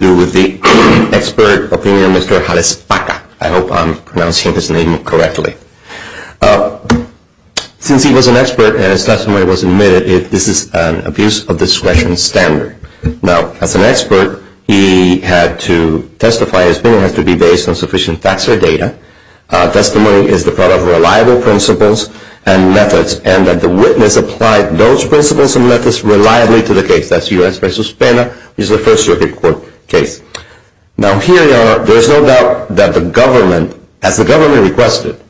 to do with the expert opinion of Mr. Jalezpaca, I hope I'm pronouncing his name correctly. Since he was an expert and his testimony was admitted, this is an abuse of discretion standard. Now, as an expert, he had to testify his opinion has to be based on sufficient facts or data. Testimony is the product of reliable principles and methods, and that the witness applied those principles and methods reliably to the case. That's U.S. v. Pena, which is the first circuit court case. Now, here there's no doubt that the government, as the government requested,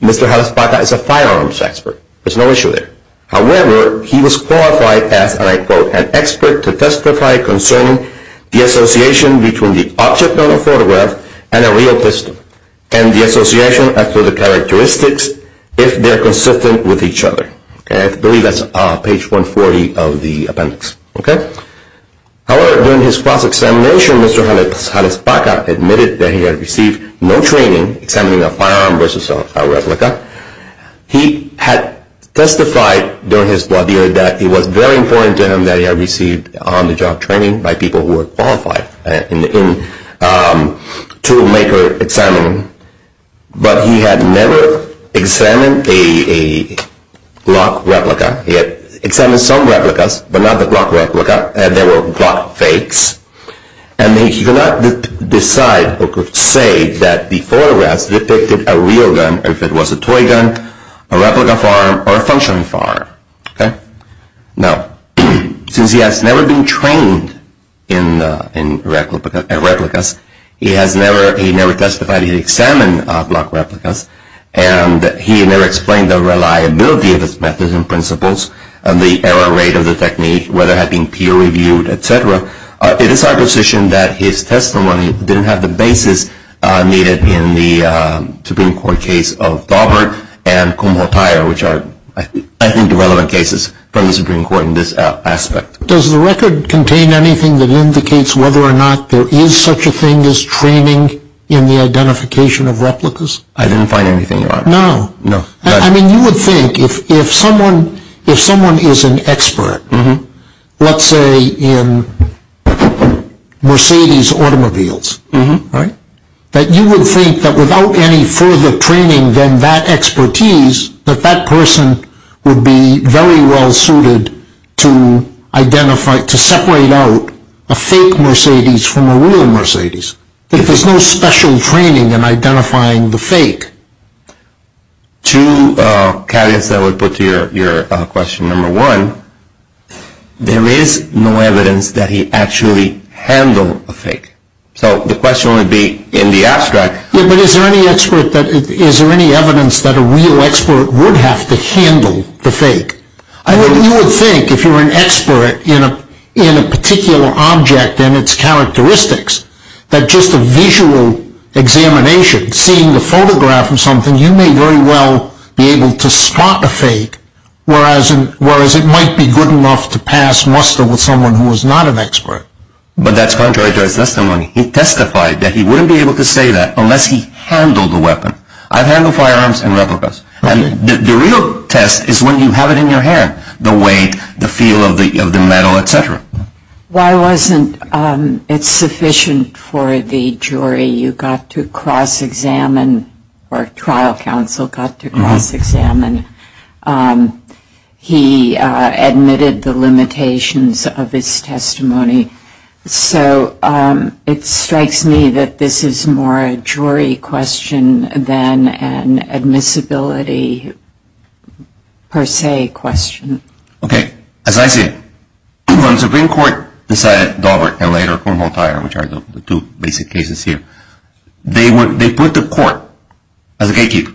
Mr. Jalezpaca is a firearms expert. There's no issue there. However, he was qualified as, and I quote, an expert to testify concerning the association between the object on the photograph and a real pistol, and the association as to the characteristics if they're consistent with each other. I believe that's page 140 of the appendix. However, during his cross-examination, Mr. Jalezpaca admitted that he had received no training examining a firearm versus a replica. He had testified during his lawyer that it was very important to him that he had received on-the-job training by people who were qualified in toolmaker examining. But he had never examined a Glock replica. He had examined some replicas, but not the Glock replica. There were Glock fakes. And he could not decide or could say that the photographs depicted a real gun, or if it was a toy gun, a replica firearm, or a functioning firearm. Now, since he has never been trained in replicas, he never testified. He examined Glock replicas. And he never explained the reliability of his methods and principles, and the error rate of the technique, whether it had been peer-reviewed, et cetera. It is our position that his testimony didn't have the basis needed in the Supreme Court case of Daubert and Kumho Tire, which are, I think, the relevant cases from the Supreme Court in this aspect. Does the record contain anything that indicates whether or not there is such a thing as training in the identification of replicas? I didn't find anything, Your Honor. No? No. I mean, you would think if someone is an expert, let's say in Mercedes automobiles, that you would think that without any further training than that expertise, that that person would be very well suited to separate out a fake Mercedes from a real Mercedes, if there's no special training in identifying the fake. Two caveats I would put to your question. Number one, there is no evidence that he actually handled a fake. So the question would be in the abstract. Yeah, but is there any evidence that a real expert would have to handle the fake? You would think, if you're an expert in a particular object and its characteristics, that just a visual examination, seeing the photograph of something, you may very well be able to spot a fake, whereas it might be good enough to pass muster with someone who is not an expert. But that's contrary to his testimony. He testified that he wouldn't be able to say that unless he handled the weapon. I've handled firearms and replicas. And the real test is when you have it in your hand, the weight, the feel of the metal, et cetera. Why wasn't it sufficient for the jury you got to cross-examine or trial counsel got to cross-examine? He admitted the limitations of his testimony. So it strikes me that this is more a jury question than an admissibility per se question. Okay. As I see it, when the Supreme Court decided, Daubert and later Cornwall-Tyer, which are the two basic cases here, they put the court as a gatekeeper.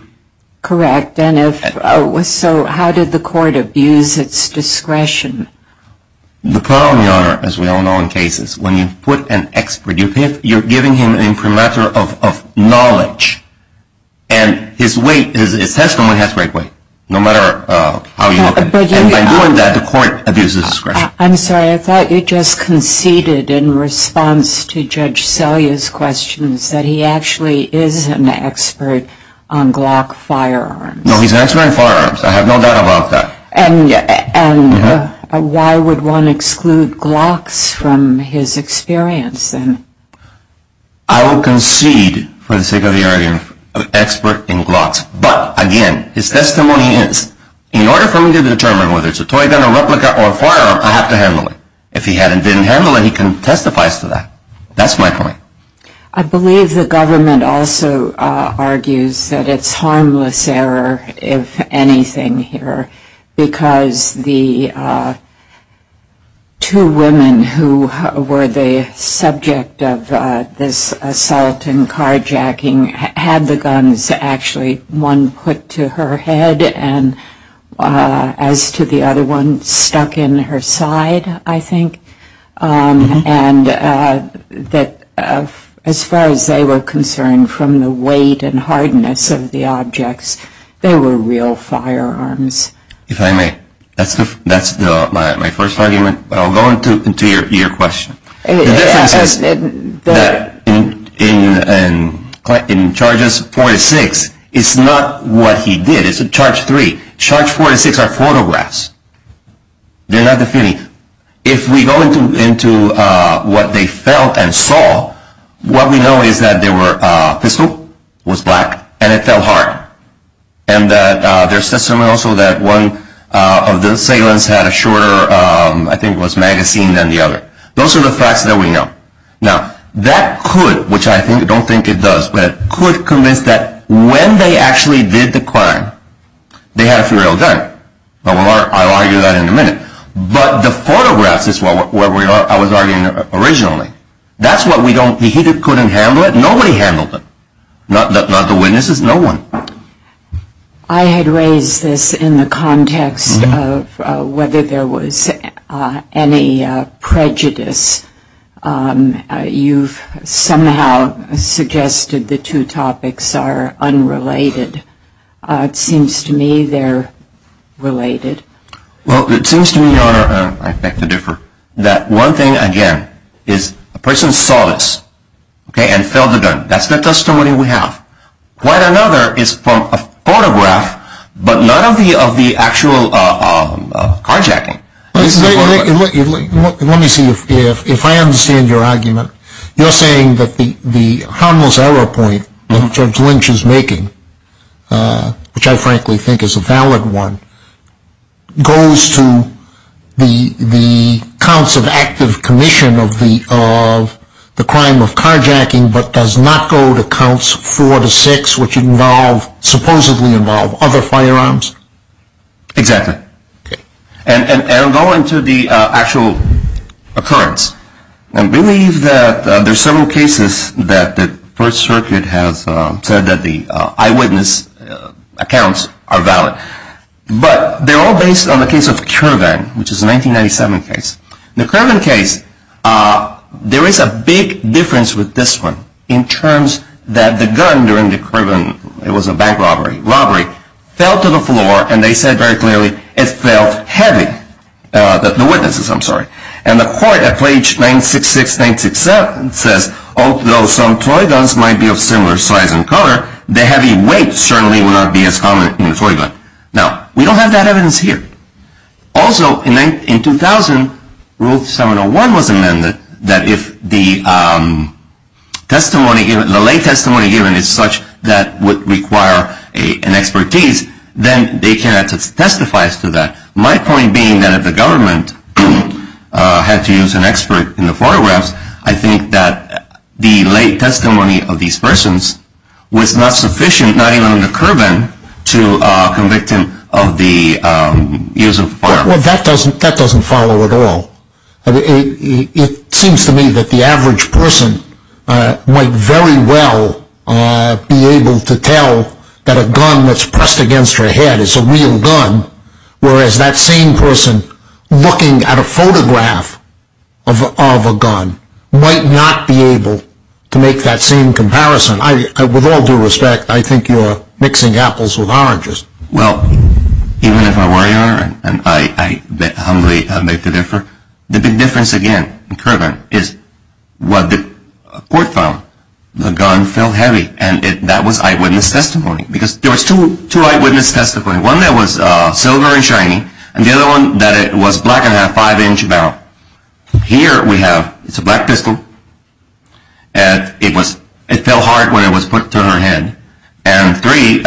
Correct. And if so, how did the court abuse its discretion? The problem, Your Honor, as we all know in cases, when you put an expert, you're giving him an incrementer of knowledge. And his weight, his testimony has great weight, no matter how you look at it. And by doing that, the court abuses discretion. I'm sorry. I thought you just conceded in response to Judge Selye's questions that he actually is an expert on Glock firearms. No, he's an expert on firearms. I have no doubt about that. And why would one exclude Glocks from his experience, then? I will concede, for the sake of the argument, an expert in Glocks. But, again, his testimony is, in order for me to determine whether it's a toy gun, a replica, or a firearm, I have to handle it. If he hadn't been handling it, he can testify to that. That's my point. I believe the government also argues that it's harmless error, if anything here, because the two women who were the subject of this assault and carjacking had the guns actually one put to her head, and as to the other one, stuck in her side, I think. And that, as far as they were concerned, from the weight and hardness of the objects, they were real firearms. If I may, that's my first argument, but I'll go into your question. The difference is that in charges 4 to 6, it's not what he did. It's in charge 3. Charge 4 to 6 are photographs. They're not definitive. If we go into what they felt and saw, what we know is that there were a pistol, it was black, and it fell hard. And that there's testimony also that one of the assailants had a shorter, I think it was magazine, than the other. Those are the facts that we know. Now, that could, which I don't think it does, but it could convince that when they actually did the crime, they had a real gun. I'll argue that in a minute. But the photographs is where I was arguing originally. That's what we don't, he couldn't handle it. Nobody handled it. Not the witnesses, no one. I had raised this in the context of whether there was any prejudice. You've somehow suggested the two topics are unrelated. It seems to me they're related. Well, it seems to me, Your Honor, I beg to differ. That one thing, again, is a person saw this and fell the gun. That's the testimony we have. Quite another is from a photograph, but not of the actual carjacking. Let me see if I understand your argument. You're saying that the harmless error point that Judge Lynch is making, which I frankly think is a valid one, goes to the counts of active commission of the crime of carjacking, but does not go to counts four to six, which involve, supposedly involve, other firearms? Exactly. And I'll go into the actual occurrence. I believe that there's several cases that the First Circuit has said that the eyewitness accounts are valid. But they're all based on the case of Kirvan, which is a 1997 case. The Kirvan case, there is a big difference with this one in terms that the gun during the Kirvan, it was a bank robbery, robbery, fell to the floor, and they said very clearly it felt heavy, the witnesses, I'm sorry. And the court at page 966-967 says, although some toy guns might be of similar size and color, the heavy weight certainly would not be as common in a toy gun. Now, we don't have that evidence here. Also, in 2000, Rule 701 was amended that if the testimony, the lay testimony given is such that would require an expertise, then they cannot testify to that. My point being that if the government had to use an expert in the photographs, I think that the lay testimony of these persons was not sufficient, not even in the Kirvan, to convict him of the use of firearms. Well, that doesn't follow at all. It seems to me that the average person might very well be able to tell that a gun that's pressed against your head is a real gun, whereas that same person looking at a photograph of a gun might not be able to make that same comparison. With all due respect, I think you're mixing apples with oranges. Well, even if I were, Your Honor, and I humbly make the difference, the big difference again in Kirvan is what the court found. The gun felt heavy, and that was eyewitness testimony, because there was two eyewitness testimonies. One that was silver and shiny, and the other one that it was black and had a five-inch barrel. Here we have, it's a black pistol, and it fell hard when it was put to her head. And three,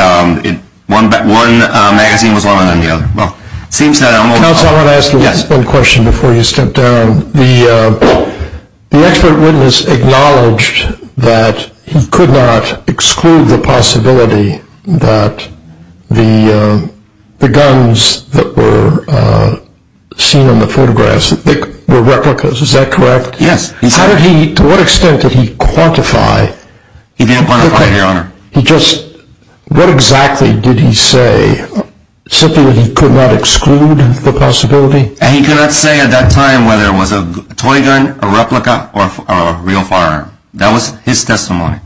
one magazine was longer than the other. Well, it seems that I'm over- Counsel, I want to ask you one question before you step down. The expert witness acknowledged that he could not exclude the possibility that the guns that were seen on the photographs were replicas. Is that correct? Yes. To what extent did he quantify? He didn't quantify, Your Honor. What exactly did he say, simply that he could not exclude the possibility? He could not say at that time whether it was a toy gun, a replica, or a real firearm. That was his testimony.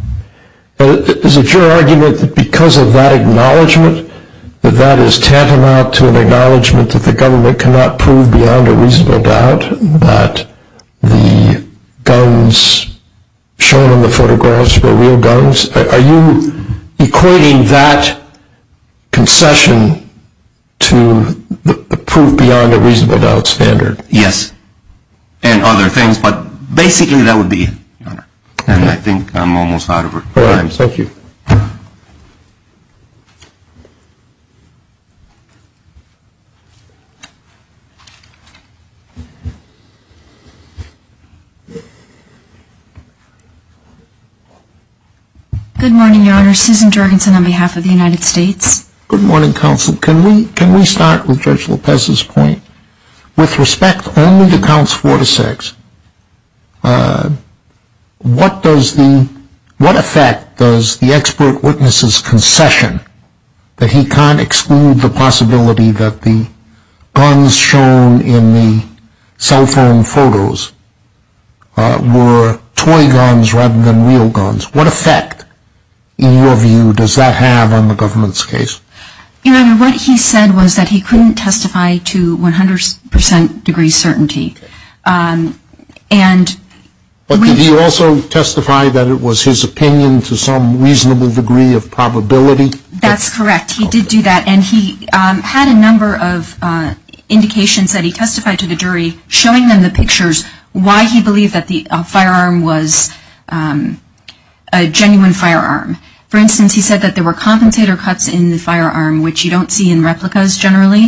Is it your argument that because of that acknowledgment, that that is tantamount to an acknowledgment that the government cannot prove beyond a reasonable doubt that the guns shown on the photographs were real guns? Are you equating that concession to the prove-beyond-a-reasonable-doubt standard? Yes, and other things, but basically that would be it, Your Honor. And I think I'm almost out of time. Thank you. Good morning, Your Honor. Susan Jorgensen on behalf of the United States. Good morning, Counsel. Can we start with Judge Lopez's point? With respect only to counts four to six, what effect does the expert witness's concession that he can't exclude the possibility that the guns shown in the cell phone photos were toy guns rather than real guns, what effect, in your view, does that have on the government's case? Your Honor, what he said was that he couldn't testify to 100 percent degree certainty. But did he also testify that it was his opinion to some reasonable degree of probability? That's correct. He did do that, and he had a number of indications that he testified to the jury, showing them the pictures why he believed that the firearm was a genuine firearm. For instance, he said that there were compensator cuts in the firearm, which you don't see in replicas generally,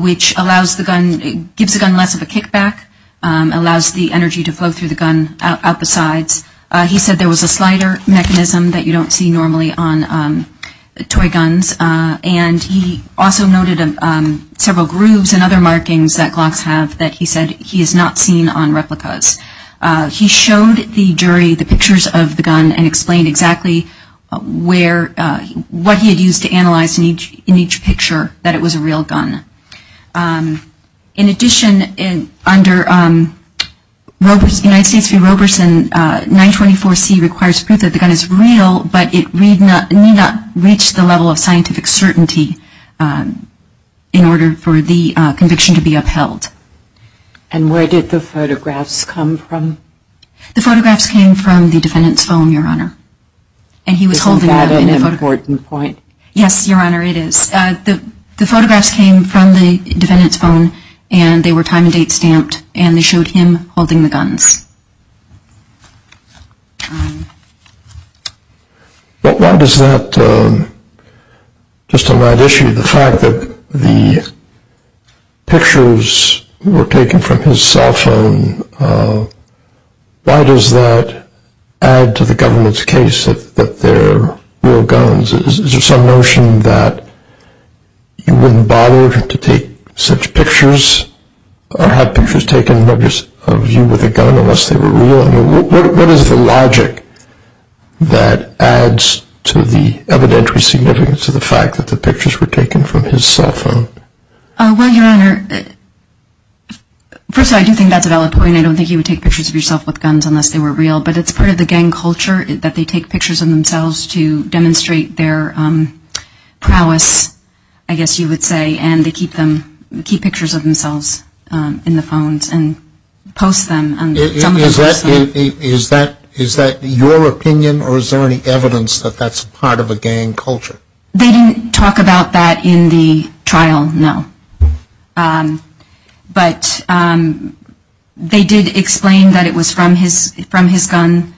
which allows the gun, gives the gun less of a kickback, allows the energy to flow through the gun out the sides. He said there was a slider mechanism that you don't see normally on toy guns. And he also noted several grooves and other markings that Glocks have that he said he has not seen on replicas. He showed the jury the pictures of the gun and explained exactly what he had used to analyze in each picture that it was a real gun. In addition, under United States v. Roberson, 924C requires proof that the gun is real, but it need not reach the level of scientific certainty in order for the conviction to be upheld. And where did the photographs come from? The photographs came from the defendant's phone, Your Honor. Isn't that an important point? Yes, Your Honor, it is. The photographs came from the defendant's phone, and they were time and date stamped, and they showed him holding the guns. But why does that, just on that issue, the fact that the pictures were taken from his cell phone, why does that add to the government's case that they're real guns? Is there some notion that you wouldn't bother to take such pictures or have pictures taken of you with a gun unless they were real? I mean, what is the logic that adds to the evidentary significance of the fact that the pictures were taken from his cell phone? Well, Your Honor, first of all, I do think that's a valid point. I don't think you would take pictures of yourself with guns unless they were real, but it's part of the gang culture that they take pictures of themselves to demonstrate their prowess, I guess you would say, and they keep pictures of themselves in the phones and post them. Is that your opinion, or is there any evidence that that's part of a gang culture? They didn't talk about that in the trial, no. But they did explain that it was from his phone,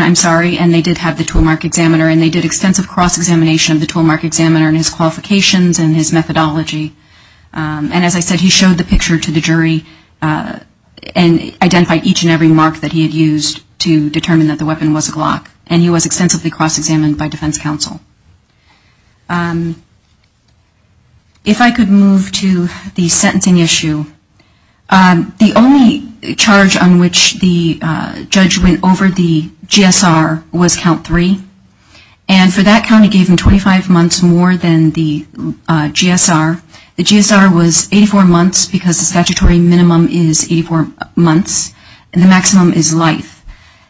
I'm sorry, and they did have the toolmark examiner and they did extensive cross-examination of the toolmark examiner and his qualifications and his methodology. And as I said, he showed the picture to the jury and identified each and every mark that he had used to determine that the weapon was a Glock, and he was extensively cross-examined by defense counsel. If I could move to the sentencing issue, the only charge on which the judge went over the GSR was count three, and for that count he gave him 25 months more than the GSR. The GSR was 84 months because the statutory minimum is 84 months, and the maximum is life.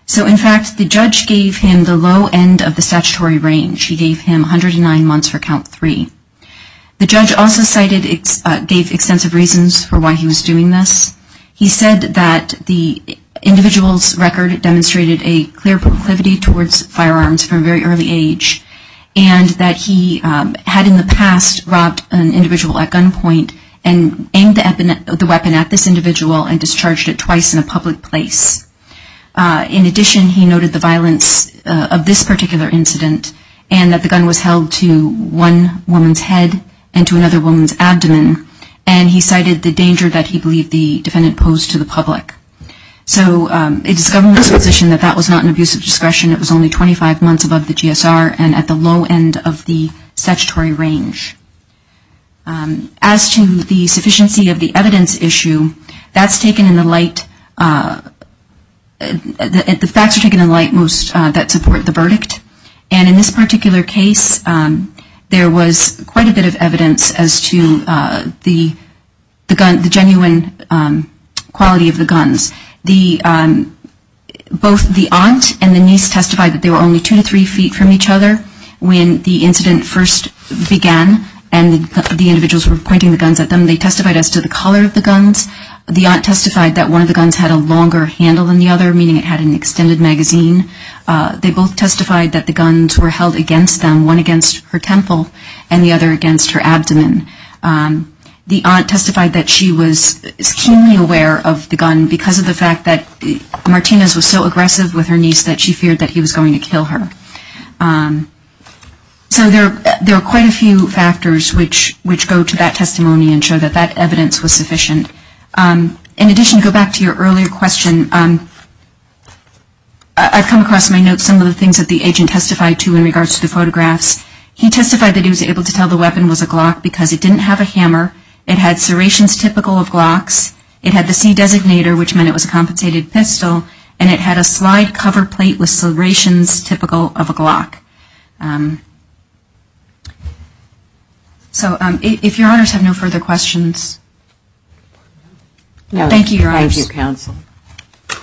So in fact, the judge gave him the low end of the statutory range. He gave him 109 months for count three. The judge also gave extensive reasons for why he was doing this. He said that the individual's record demonstrated a clear proclivity towards firearms from a very early age, and that he had in the past robbed an individual at gunpoint and aimed the weapon at this individual and discharged it twice in a public place. In addition, he noted the violence of this particular incident and that the gun was held to one woman's head and to another woman's abdomen, and he cited the danger that he believed the defendant posed to the public. So it is the government's position that that was not an abuse of discretion. It was only 25 months above the GSR and at the low end of the statutory range. As to the sufficiency of the evidence issue, that's taken in the light, and in this particular case, there was quite a bit of evidence as to the genuine quality of the guns. Both the aunt and the niece testified that they were only two to three feet from each other when the incident first began and the individuals were pointing the guns at them. They testified as to the color of the guns. The aunt testified that one of the guns had a longer handle than the other, meaning it had an extended magazine. They both testified that the guns were held against them, one against her temple and the other against her abdomen. The aunt testified that she was keenly aware of the gun because of the fact that Martinez was so aggressive with her niece that she feared that he was going to kill her. So there are quite a few factors which go to that testimony and show that that evidence was sufficient. In addition, to go back to your earlier question, I've come across in my notes some of the things that the agent testified to in regards to the photographs. He testified that he was able to tell the weapon was a Glock because it didn't have a hammer. It had serrations typical of Glocks. It had the C designator, which meant it was a compensated pistol, and it had a slide cover plate with serrations typical of a Glock. So if your honors have no further questions. Thank you, your honors. Thank you, counsel. Thank you.